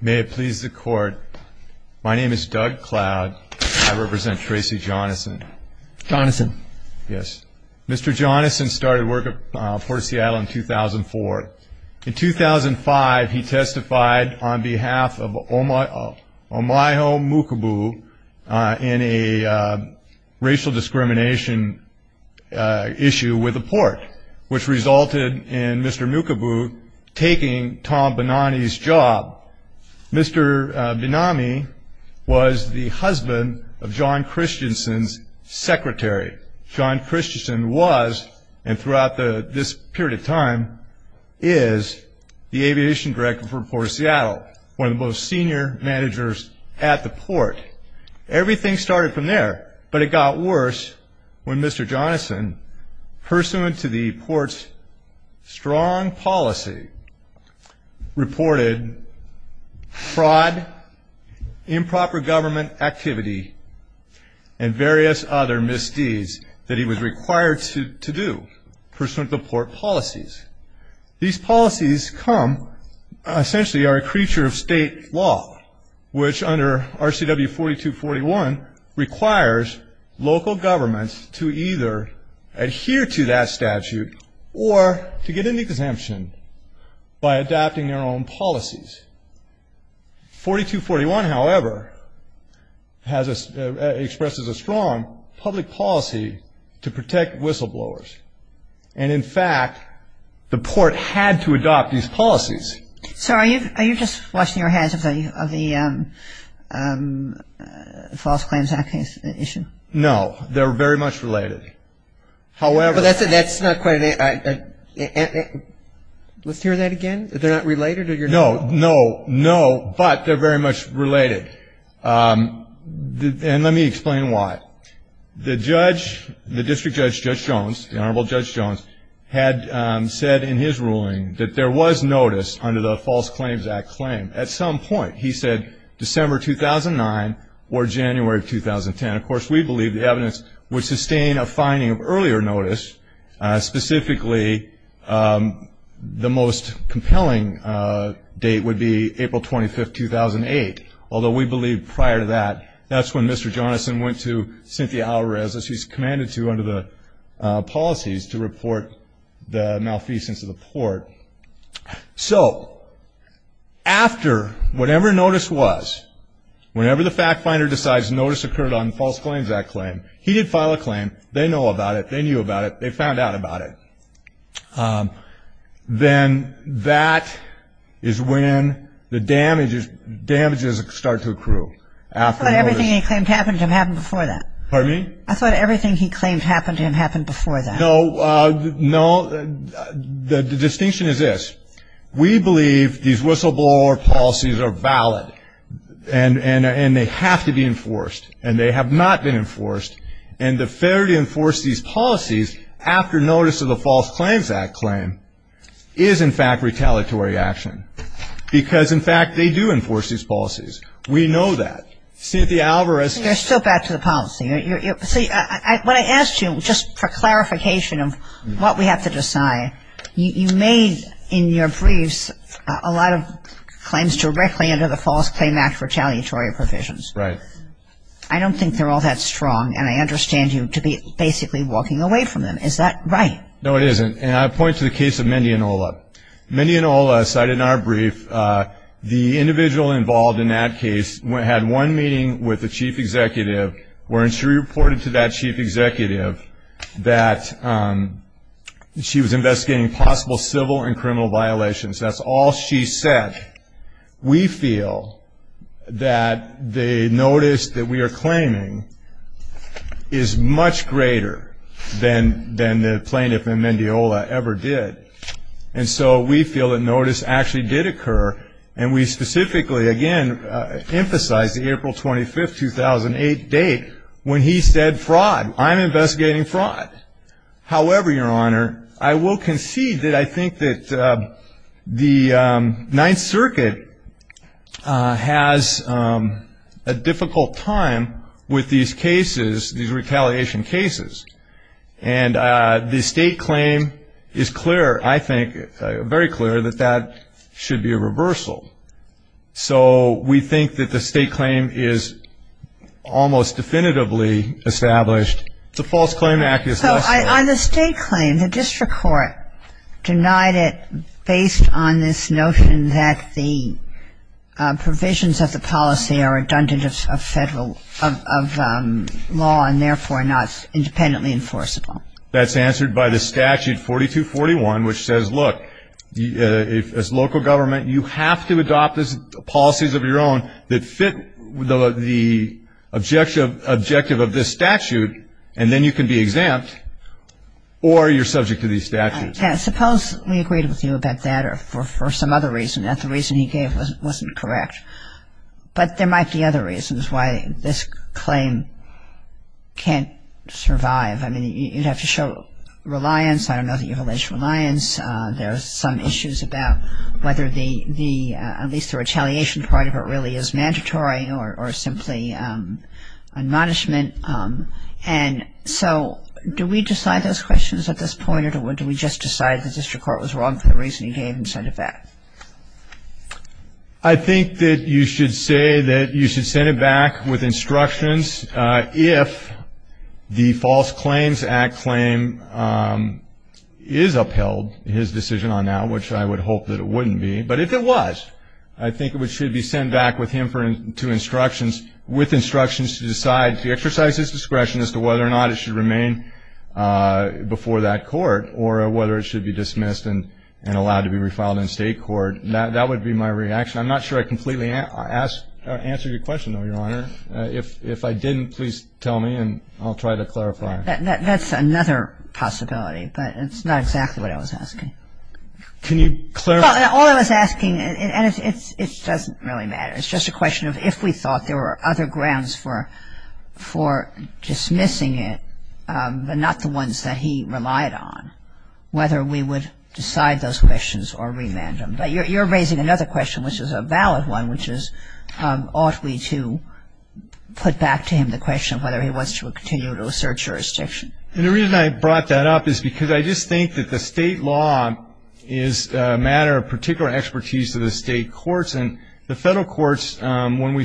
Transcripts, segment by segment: May it please the court. My name is Doug Cloud. I represent Tracy Jonassen. Jonassen. Yes. Mr. Jonassen started work at Port of Seattle in 2004. In 2005, he testified on behalf of Omayo Mukubu in a racial discrimination issue with the port, which resulted in Mr. Mukubu taking Tom Benami's job. Mr. Benami was the husband of John Christensen's secretary. John Christensen was and throughout this period of time is the aviation director for Port of Seattle, one of the most senior managers at the port. Everything started from there, but it got worse when Mr. Jonassen, pursuant to the port's strong policy, reported fraud, improper government activity, and various other misdeeds that he was required to do, pursuant to the port policies. These policies come, essentially are a creature of state law, which under RCW 4241 requires local governments to either adhere to that statute or to get an exemption by adapting their own policies. 4241, however, expresses a strong public policy to protect whistleblowers. And, in fact, the port had to adopt these policies. Sir, are you just washing your hands of the False Claims Act issue? No, they're very much related. However – But that's not quite – let's hear that again. They're not related or you're not – No, no, no, but they're very much related. And let me explain why. The judge, the district judge, Judge Jones, the Honorable Judge Jones, had said in his ruling that there was notice under the False Claims Act claim at some point. He said December 2009 or January 2010. Of course, we believe the evidence would sustain a finding of earlier notice. Specifically, the most compelling date would be April 25, 2008, although we believe prior to that, that's when Mr. Jones went to Cynthia Alvarez, as she's commanded to under the policies, to report the malfeasance of the port. So after whatever notice was, whenever the fact finder decides notice occurred on False Claims Act claim, he did file a claim, they know about it, they knew about it, they found out about it. Then that is when the damages start to accrue. I thought everything he claimed happened to have happened before that. Pardon me? I thought everything he claimed happened to have happened before that. No, the distinction is this. We believe these whistleblower policies are valid and they have to be enforced, and they have not been enforced. And the fair to enforce these policies after notice of the False Claims Act claim is, in fact, retaliatory action. Because, in fact, they do enforce these policies. We know that. Cynthia Alvarez. You're still back to the policy. See, what I asked you, just for clarification of what we have to decide, you made in your briefs a lot of claims directly under the False Claims Act retaliatory provisions. Right. I don't think they're all that strong, and I understand you to be basically walking away from them. Is that right? No, it isn't. And I point to the case of Mindy and Ola. Mindy and Ola cited in our brief, the individual involved in that case had one meeting with the chief executive where she reported to that chief executive that she was investigating possible civil and criminal violations. That's all she said. We feel that the notice that we are claiming is much greater than the plaintiff in Mindy and Ola ever did. And so we feel that notice actually did occur. And we specifically, again, emphasize the April 25, 2008 date when he said fraud. I'm investigating fraud. However, Your Honor, I will concede that I think that the Ninth Circuit has a difficult time with these cases, these retaliation cases. And the state claim is clear, I think, very clear that that should be a reversal. So we think that the state claim is almost definitively established. The False Claim Act is less than that. So on the state claim, the district court denied it based on this notion that the provisions of the policy are redundant of federal, of law, and therefore not independently enforceable. That's answered by the statute 4241, which says, look, as local government, you have to adopt policies of your own that fit the objective of this statute, and then you can be exempt or you're subject to these statutes. Yeah. Suppose we agreed with you about that for some other reason, not the reason he gave wasn't correct. But there might be other reasons why this claim can't survive. I mean, you'd have to show reliance. I don't know that you have alleged reliance. There are some issues about whether at least the retaliation part of it really is mandatory or simply admonishment. And so do we decide those questions at this point, or do we just decide the district court was wrong for the reason he gave instead of that? I think that you should say that you should send it back with instructions if the False Claims Act claim is upheld, his decision on that, which I would hope that it wouldn't be. But if it was, I think it should be sent back with him to instructions, with instructions to decide to exercise his discretion as to whether or not it should remain before that court or whether it should be dismissed and allowed to be refiled in state court. That would be my reaction. I'm not sure I completely answered your question, though, Your Honor. If I didn't, please tell me and I'll try to clarify. That's another possibility, but it's not exactly what I was asking. Can you clarify? All I was asking, and it doesn't really matter, it's just a question of if we thought there were other grounds for dismissing it but not the ones that he relied on, whether we would decide those questions or remand them. But you're raising another question, which is a valid one, which is ought we to put back to him the question of whether he wants to continue to assert jurisdiction. And the reason I brought that up is because I just think that the state law is a matter of particular expertise to the state courts, and the federal courts, when we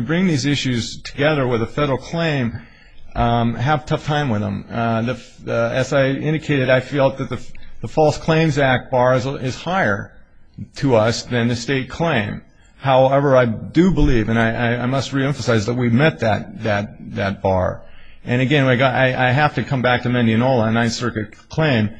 bring these issues together with a federal claim, have a tough time with them. As I indicated, I feel that the False Claims Act bar is higher to us than the state claim. However, I do believe, and I must reemphasize that we met that bar. And again, I have to come back to Mendianola, a Ninth Circuit claim.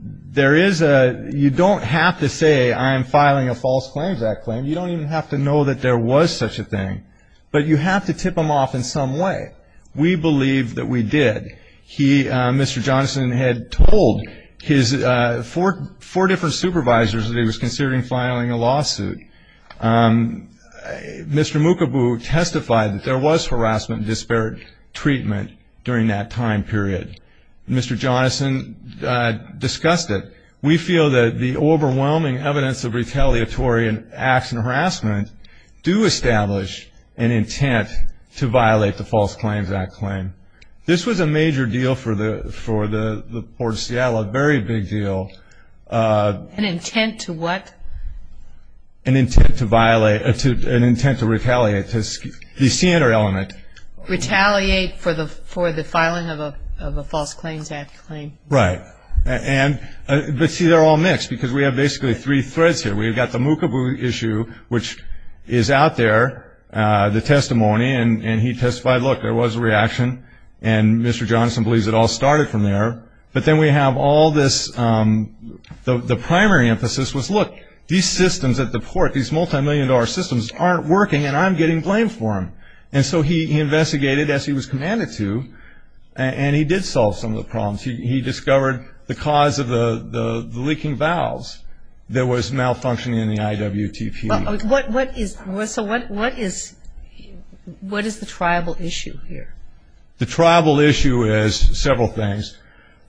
You don't have to say, I'm filing a False Claims Act claim. You don't even have to know that there was such a thing. But you have to tip him off in some way. We believe that we did. Mr. Johnson had told his four different supervisors that he was considering filing a lawsuit. Mr. Mukobu testified that there was harassment and disparate treatment during that time period. Mr. Johnson discussed it. We feel that the overwhelming evidence of retaliatory acts and harassment do establish an intent to violate the False Claims Act claim. This was a major deal for the Port of Seattle, a very big deal. An intent to what? An intent to violate, an intent to retaliate, the standard element. Retaliate for the filing of a False Claims Act claim. Right. But see, they're all mixed because we have basically three threads here. We've got the Mukobu issue, which is out there, the testimony. And he testified, look, there was a reaction. And Mr. Johnson believes it all started from there. But then we have all this, the primary emphasis was, look, these systems at the port, these multimillion-dollar systems aren't working, and I'm getting blamed for them. And so he investigated, as he was commanded to, and he did solve some of the problems. He discovered the cause of the leaking valves that was malfunctioning in the IWTP. So what is the tribal issue here? The tribal issue is several things.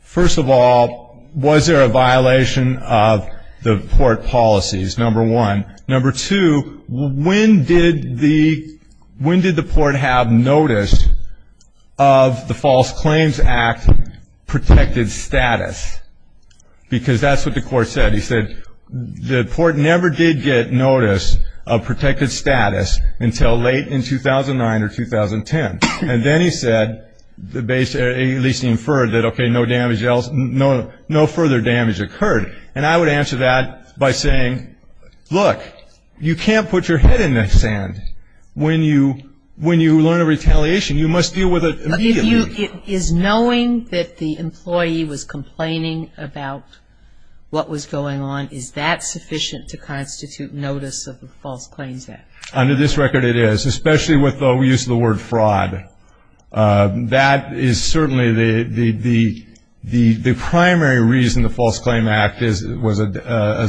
First of all, was there a violation of the port policies, number one. Number two, when did the port have notice of the False Claims Act protected status? Because that's what the court said. He said the port never did get notice of protected status until late in 2009 or 2010. And then he said, at least he inferred that, okay, no further damage occurred. And I would answer that by saying, look, you can't put your head in the sand. When you learn of retaliation, you must deal with it immediately. Is knowing that the employee was complaining about what was going on, is that sufficient to constitute notice of the False Claims Act? Under this record, it is, especially with the use of the word fraud. That is certainly the primary reason the False Claims Act was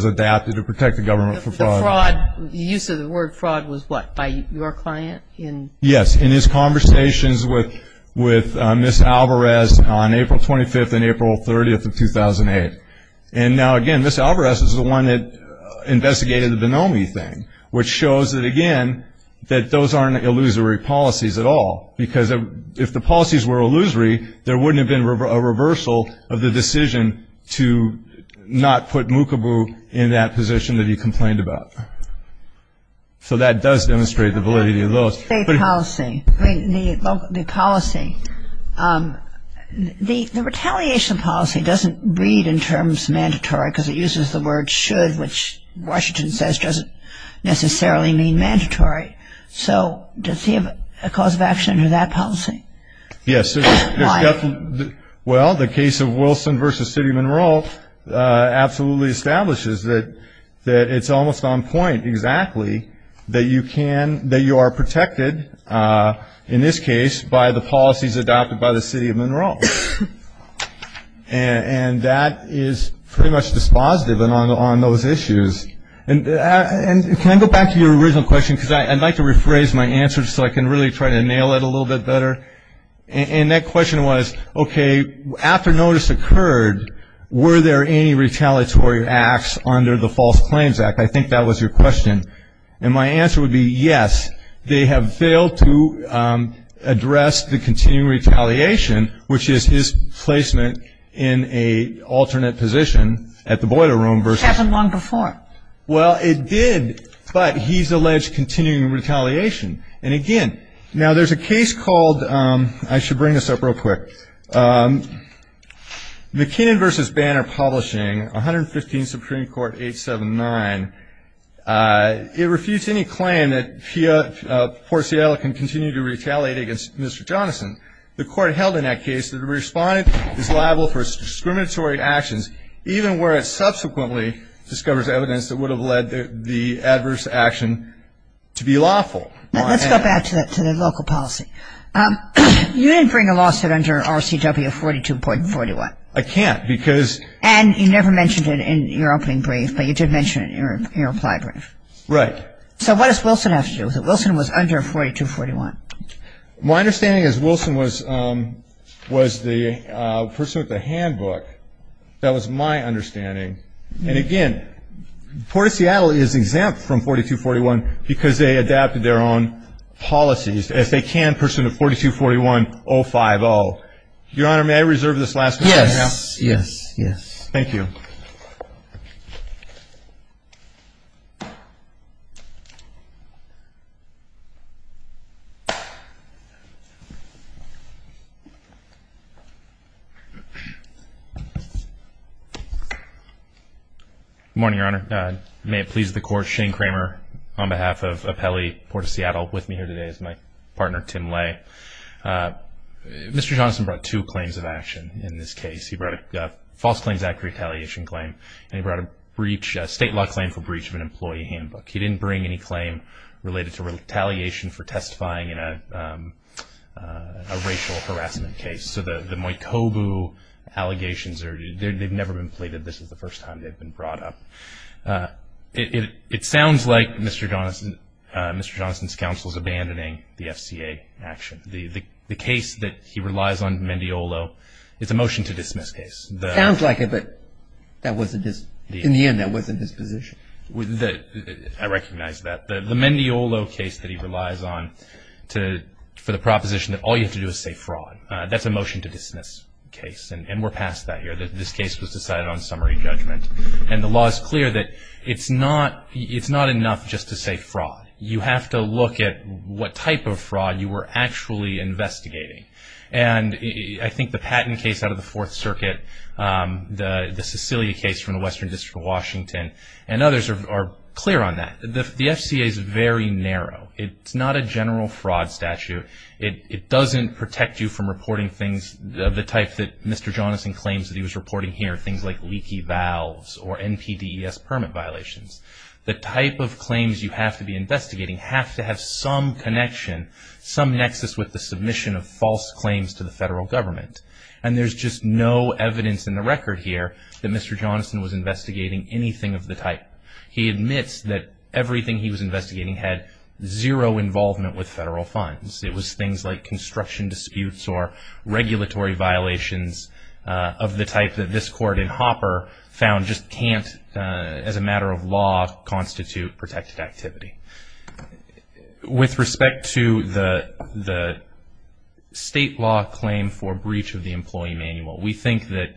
adapted to protect the government from fraud. The use of the word fraud was what, by your client? Yes, in his conversations with Ms. Alvarez on April 25th and April 30th of 2008. And now, again, Ms. Alvarez is the one that investigated the Bonomi thing, which shows that, again, that those aren't illusory policies at all. Because if the policies were illusory, there wouldn't have been a reversal of the decision to not put Mukabu in that position that he complained about. So that does demonstrate the validity of those. The policy, the policy, the retaliation policy doesn't read in terms mandatory, because it uses the word should, which Washington says doesn't necessarily mean mandatory. So does he have a cause of action for that policy? Yes. Why? Well, the case of Wilson v. City of Monroe absolutely establishes that it's almost on point, exactly, that you can, that you are protected, in this case, by the policies adopted by the City of Monroe. And that is pretty much dispositive on those issues. And can I go back to your original question? Because I'd like to rephrase my answer so I can really try to nail it a little bit better. And that question was, okay, after notice occurred, were there any retaliatory acts under the False Claims Act? I think that was your question. And my answer would be yes. They have failed to address the continuing retaliation, which is his placement in an alternate position at the Boiler Room versus. It happened long before. Well, it did. But he's alleged continuing retaliation. And, again, now there's a case called, I should bring this up real quick, McKinnon v. Banner Publishing, 115 Supreme Court 879. It refused any claim that Portiello can continue to retaliate against Mr. Johnson. The court held in that case that a respondent is liable for discriminatory actions, even where it subsequently discovers evidence that would have led the adverse action to be lawful. Let's go back to the local policy. You didn't bring a lawsuit under RCW 42.41. I can't because. And you never mentioned it in your opening brief, but you did mention it in your reply brief. Right. So what does Wilson have to do with it? Wilson was under 42.41. My understanding is Wilson was the person with the handbook. That was my understanding. And, again, the Port of Seattle is exempt from 42.41 because they adapted their own policies. If they can, pursue the 42.41-050. Your Honor, may I reserve this last question now? Yes, yes, yes. Thank you. Good morning, Your Honor. May it please the Court, Shane Kramer on behalf of Helle Port of Seattle with me here today is my partner, Tim Lay. Mr. Johnson brought two claims of action in this case. He brought a False Claims Act retaliation claim, and he brought a state law claim for breach of an employee handbook. He didn't bring any claim related to retaliation for testifying in a racial harassment case. So the Mojkobu allegations, they've never been pleaded. This is the first time they've been brought up. It sounds like Mr. Johnson's counsel is abandoning the FCA action. The case that he relies on, Mendiolo, is a motion to dismiss case. It sounds like it, but in the end that wasn't his position. I recognize that. The Mendiolo case that he relies on for the proposition that all you have to do is say fraud, that's a motion to dismiss case. And we're past that here. This case was decided on summary judgment. And the law is clear that it's not enough just to say fraud. You have to look at what type of fraud you were actually investigating. And I think the Patton case out of the Fourth Circuit, the Sicilia case from the Western District of Washington, and others are clear on that. The FCA is very narrow. It's not a general fraud statute. It doesn't protect you from reporting things of the type that Mr. Johnson claims that he was reporting here, things like leaky valves or NPDES permit violations. The type of claims you have to be investigating have to have some connection, some nexus with the submission of false claims to the federal government. And there's just no evidence in the record here that Mr. Johnson was investigating anything of the type. He admits that everything he was investigating had zero involvement with federal funds. It was things like construction disputes or regulatory violations of the type that this court in Hopper found just can't, as a matter of law, constitute protected activity. With respect to the state law claim for breach of the employee manual, we think that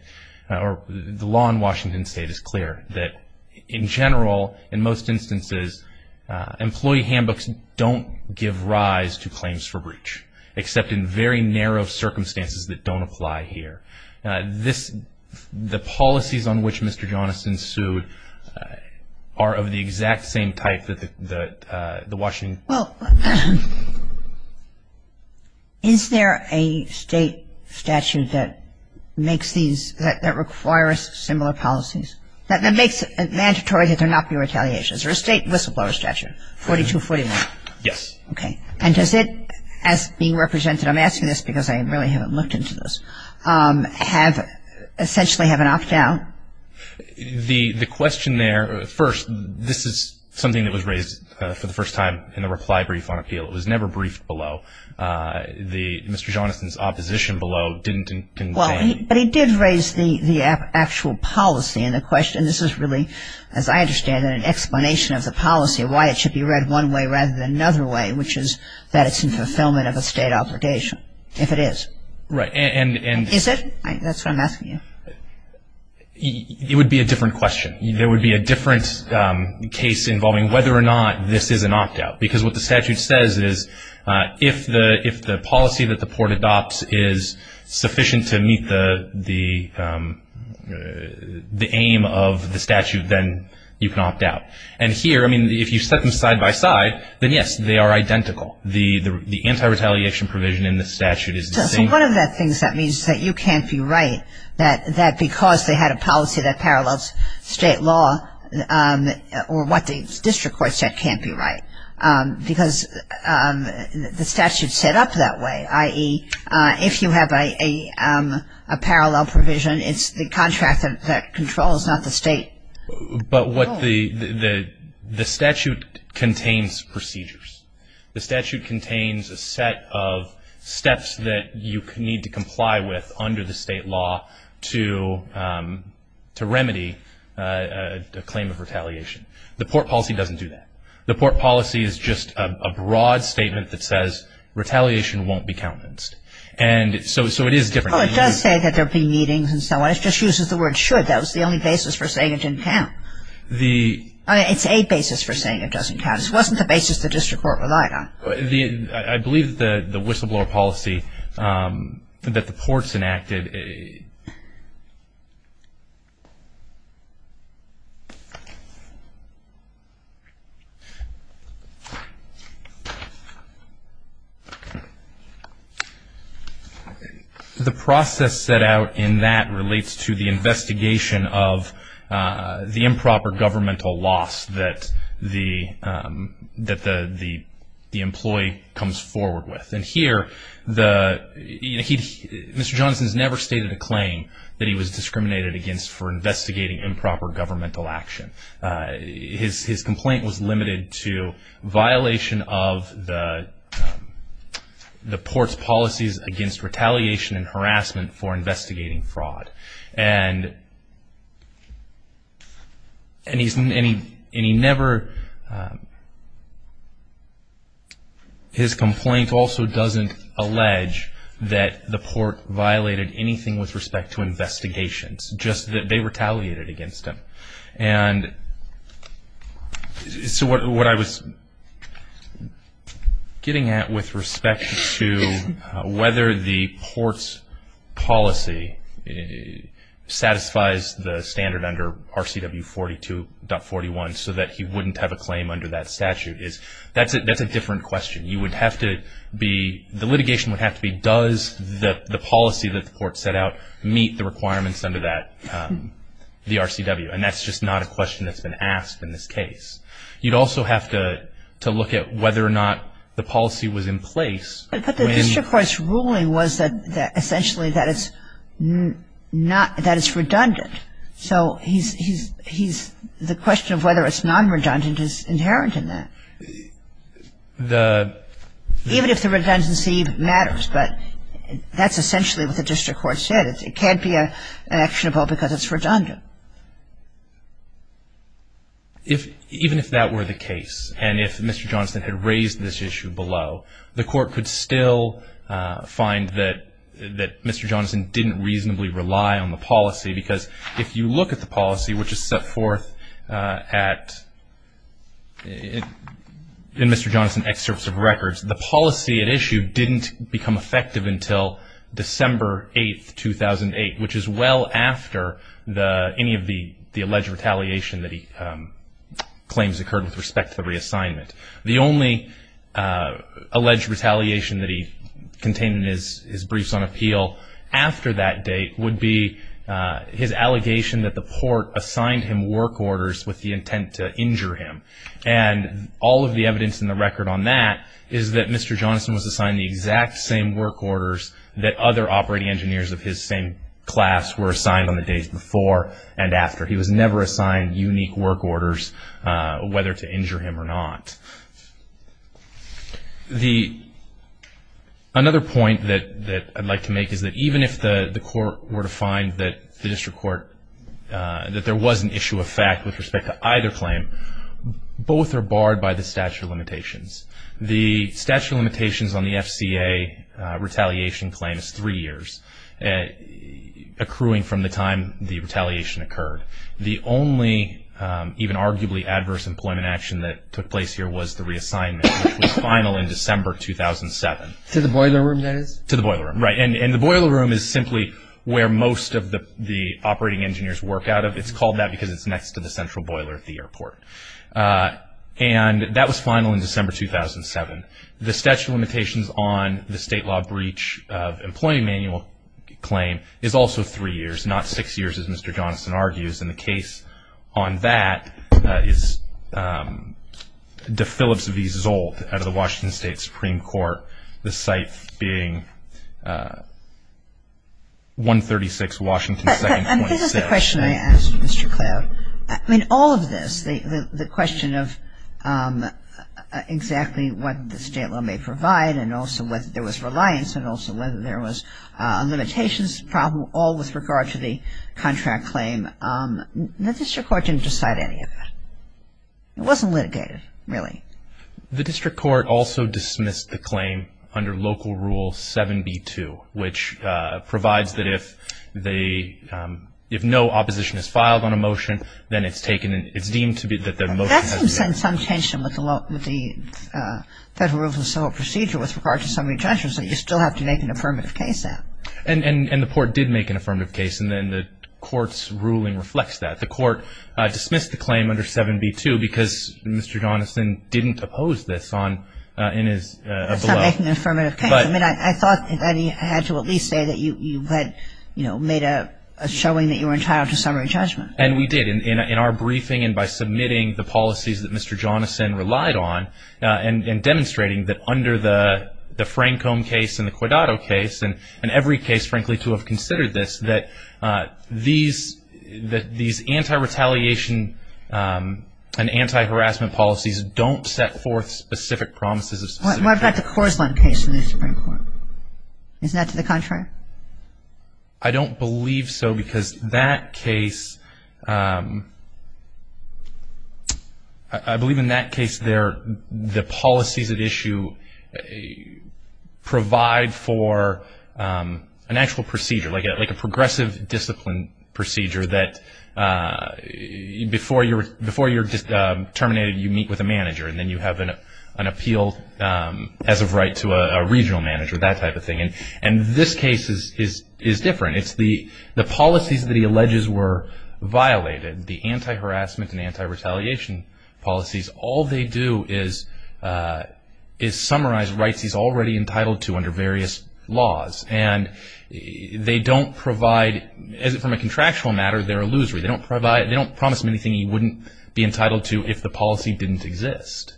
the law in Washington State is clear that, in general, in most instances, employee handbooks don't give rise to claims for breach, except in very narrow circumstances that don't apply here. This, the policies on which Mr. Johnson sued are of the exact same type that the Washington. Well, is there a state statute that makes these, that requires similar policies, that makes it mandatory that there not be retaliations, or a state whistleblower statute, 4241? Yes. Okay. And does it, as being represented, I'm asking this because I really haven't looked into this, have essentially have an opt-out? The question there, first, this is something that was raised for the first time in the reply brief on appeal. It was never briefed below. Mr. Johnson's opposition below didn't convey. Well, but he did raise the actual policy, and the question, this is really, as I understand it, an explanation of the policy, why it should be read one way rather than another way, which is that it's in fulfillment of a state obligation, if it is. Right. Is it? That's what I'm asking you. It would be a different question. There would be a different case involving whether or not this is an opt-out, because what the statute says is if the policy that the court adopts is sufficient to meet the aim of the statute, then you can opt-out. And here, I mean, if you set them side by side, then, yes, they are identical. The anti-retaliation provision in the statute is the same. So one of the things that means is that you can't be right, that because they had a policy that parallels state law or what the district court said can't be right, because the statute's set up that way, i.e., if you have a parallel provision, it's the contractor that controls, not the state. But what the statute contains procedures. The statute contains a set of steps that you need to comply with under the state law to remedy a claim of retaliation. The port policy doesn't do that. The port policy is just a broad statement that says retaliation won't be countenanced. And so it is different. Well, it does say that there will be meetings and so on. It just uses the word should. That was the only basis for saying it didn't count. It's a basis for saying it doesn't count. This wasn't the basis the district court relied on. I believe that the whistleblower policy that the ports enacted, the process set out in that relates to the investigation of the improper governmental loss that the employee comes forward with. And here, Mr. Johnson's never stated a claim that he was discriminated against for investigating improper governmental action. His complaint was limited to violation of the port's policies against retaliation and harassment for investigating fraud. And he never, his complaint also doesn't allege that the port violated anything with respect to investigations, just that they retaliated against him. And so what I was getting at with respect to whether the port's policy satisfies the standard under RCW 42.41 so that he wouldn't have a claim under that statute is that's a different question. You would have to be, the litigation would have to be does the policy that the port set out meet the requirements under that, the RCW. And that's just not a question that's been asked in this case. You'd also have to look at whether or not the policy was in place. But the district court's ruling was that essentially that it's not, that it's redundant. So he's, the question of whether it's non-redundant is inherent in that. Even if the redundancy matters, but that's essentially what the district court said. It can't be actionable because it's redundant. If, even if that were the case, and if Mr. Johnson had raised this issue below, the court could still find that Mr. Johnson didn't reasonably rely on the policy. Because if you look at the policy, which is set forth at, in Mr. Johnson's excerpts of records, the policy at issue didn't become effective until December 8, 2008, which is well after any of the alleged retaliation that he claims occurred with respect to the reassignment. The only alleged retaliation that he contained in his briefs on appeal after that date would be his allegation that the port assigned him work orders with the intent to injure him. And all of the evidence in the record on that is that Mr. Johnson was assigned the exact same work orders that other operating engineers of his same class were assigned on the days before and after. He was never assigned unique work orders whether to injure him or not. The, another point that I'd like to make is that even if the court were to find that the district court, that there was an issue of fact with respect to either claim, both are barred by the statute of limitations. The statute of limitations on the FCA retaliation claim is three years, accruing from the time the retaliation occurred. The only even arguably adverse employment action that took place here was the reassignment, which was final in December 2007. To the boiler room, that is? To the boiler room, right. And the boiler room is simply where most of the operating engineers work out of. It's called that because it's next to the central boiler at the airport. And that was final in December 2007. The statute of limitations on the state law breach of employee manual claim is also three years, not six years as Mr. Johnson argues. And the case on that is de Phillips v. Zoldt out of the Washington State Supreme Court, the site being 136 Washington 2nd 26th. And this is the question I asked, Mr. Cloud. I mean, all of this, the question of exactly what the state law may provide and also whether there was reliance and also whether there was a limitations problem, all with regard to the contract claim, the district court didn't decide any of it. It wasn't litigated, really. The district court also dismissed the claim under Local Rule 7b-2, which provides that if no opposition is filed on a motion, then it's deemed to be that the motion has been made. That seems to send some tension with the Federal Rules of Civil Procedure with regard to some of your judgments that you still have to make an affirmative case out. And the court did make an affirmative case, and the court's ruling reflects that. The court dismissed the claim under 7b-2 because Mr. Johnson didn't oppose this in his belief. That's not making an affirmative case. I mean, I thought I had to at least say that you had made a showing that you were entitled to summary judgment. And we did. In our briefing and by submitting the policies that Mr. Johnson relied on and demonstrating that under the Francombe case and the Quedado case, and every case, frankly, to have considered this, that these anti-retaliation and anti-harassment policies don't set forth specific promises. What about the Korslund case in the Supreme Court? Isn't that to the contrary? I don't believe so because that case, I believe in that case there the policies at issue provide for an actual procedure, like a progressive discipline procedure that before you're terminated you meet with a manager and then you have an appeal as of right to a regional manager, that type of thing. And this case is different. It's the policies that he alleges were violated, the anti-harassment and anti-retaliation policies, all they do is summarize rights he's already entitled to under various laws. And they don't provide, from a contractual matter, they're illusory. They don't promise him anything he wouldn't be entitled to if the policy didn't exist.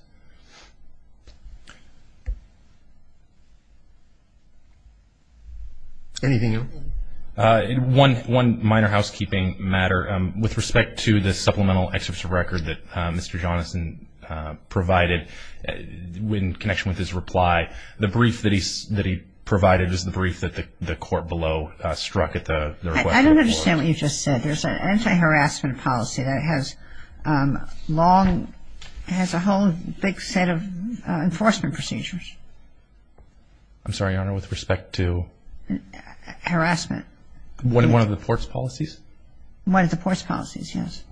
Anything else? One minor housekeeping matter. With respect to the supplemental excerpts of record that Mr. Joneson provided in connection with his reply, the brief that he provided is the brief that the court below struck at the request. I don't understand what you just said. There's an anti-harassment policy that has long, has a whole big set of enforcement procedures. I'm sorry, Your Honor, with respect to? Harassment. One of the court's policies? One of the court's policies, yes.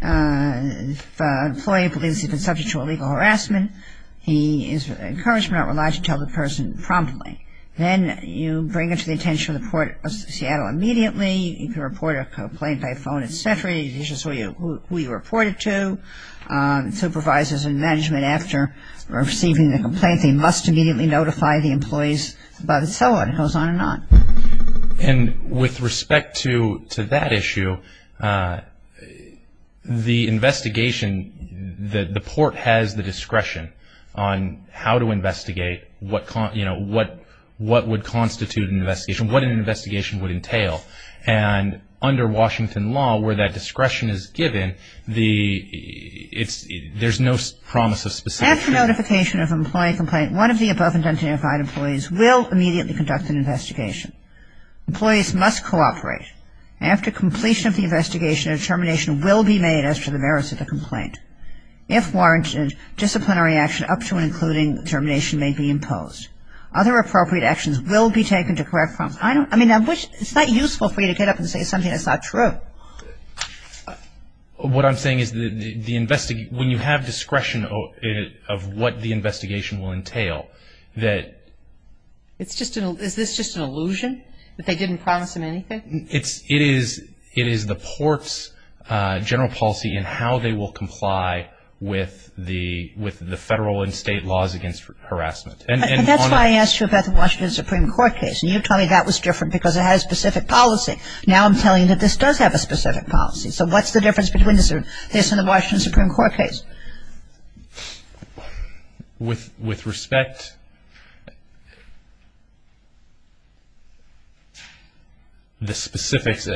If an employee believes he's been subject to illegal harassment, he is encouraged not to rely to tell the person promptly. Then you bring it to the attention of the Port of Seattle immediately. You can report a complaint by phone, et cetera. It's just who you report it to. Supervisors and management, after receiving the complaint, they must immediately notify the employees about it, so on. It goes on and on. And with respect to that issue, the investigation, the court has the discretion on how to investigate, what would constitute an investigation, what an investigation would entail. And under Washington law, where that discretion is given, there's no promise of specifics. After notification of an employee complaint, one of the above identified employees will immediately conduct an investigation. Employees must cooperate. After completion of the investigation, a determination will be made as to the merits of the complaint. If warranted, disciplinary action up to and including determination may be imposed. Other appropriate actions will be taken to correct problems. I mean, it's not useful for you to get up and say something that's not true. What I'm saying is when you have discretion of what the investigation will entail, that… Is this just an illusion that they didn't promise them anything? It is the court's general policy in how they will comply with the federal and state laws against harassment. And that's why I asked you about the Washington Supreme Court case. And you told me that was different because it had a specific policy. Now I'm telling you that this does have a specific policy. So what's the difference between this and the Washington Supreme Court case? With respect… The specifics…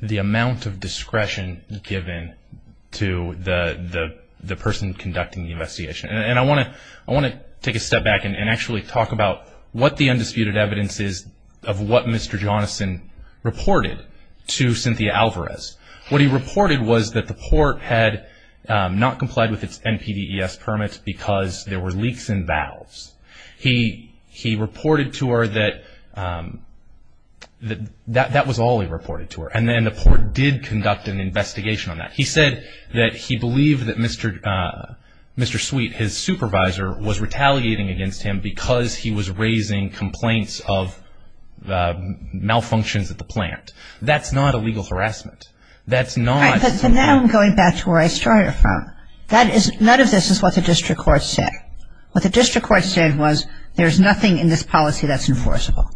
The amount of discretion given to the person conducting the investigation. And I want to take a step back and actually talk about what the undisputed evidence is of what Mr. Johnston reported to Cynthia Alvarez. What he reported was that the court had not complied with its NPDES permit because there were leaks in valves. He reported to her that that was all he reported to her. And then the court did conduct an investigation on that. He said that he believed that Mr. Sweet, his supervisor, was retaliating against him because he was raising complaints of malfunctions at the plant. That's not illegal harassment. That's not… All right, but now I'm going back to where I started from. None of this is what the district court said. What the district court said was there's nothing in this policy that's enforceable.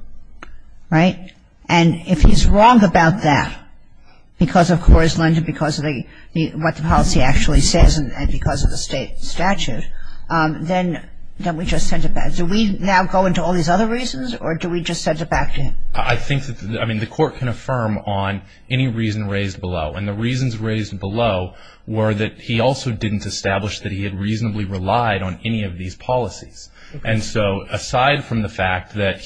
And if he's wrong about that because, of course, London because of what the policy actually says and because of the state statute, then don't we just send it back? Do we now go into all these other reasons or do we just send it back to him? I think that the court can affirm on any reason raised below. And the reasons raised below were that he also didn't establish that he had reasonably relied on any of these policies. And so aside from the fact that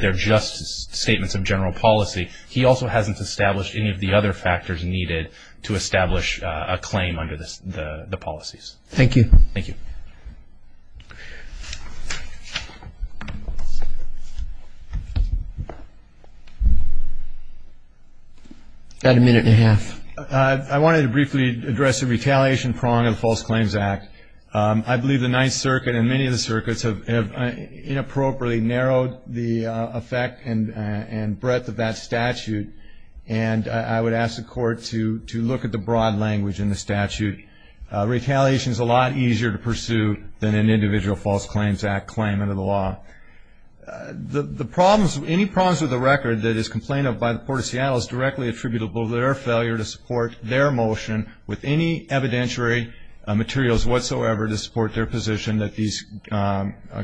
they're just statements of general policy, he also hasn't established any of the other factors needed to establish a claim under the policies. Thank you. Thank you. Got a minute and a half. I wanted to briefly address the retaliation prong of the False Claims Act. I believe the Ninth Circuit and many of the circuits have inappropriately narrowed the effect and breadth of that statute. And I would ask the court to look at the broad language in the statute. Retaliation is a lot easier to pursue than an individual False Claims Act claim under the law. Any problems with the record that is complained of by the Port of Seattle is directly attributable to their failure to support their motion with any evidentiary materials whatsoever to support their position that these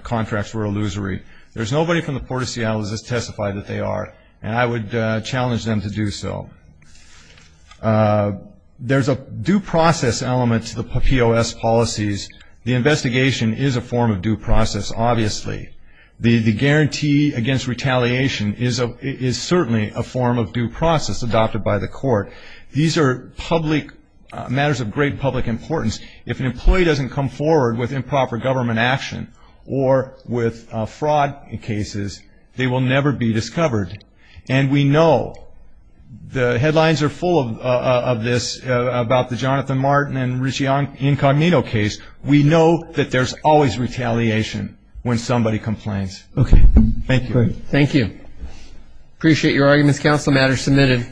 contracts were illusory. There's nobody from the Port of Seattle that has testified that they are, and I would challenge them to do so. There's a due process element to the POS policies. The investigation is a form of due process, obviously. The guarantee against retaliation is certainly a form of due process adopted by the court. These are public matters of great public importance. If an employee doesn't come forward with improper government action or with fraud cases, they will never be discovered. And we know, the headlines are full of this, about the Jonathan Martin and Richie Incognito case. We know that there's always retaliation when somebody complains. Okay. Thank you. Thank you. Appreciate your arguments, Counsel. The matter is submitted.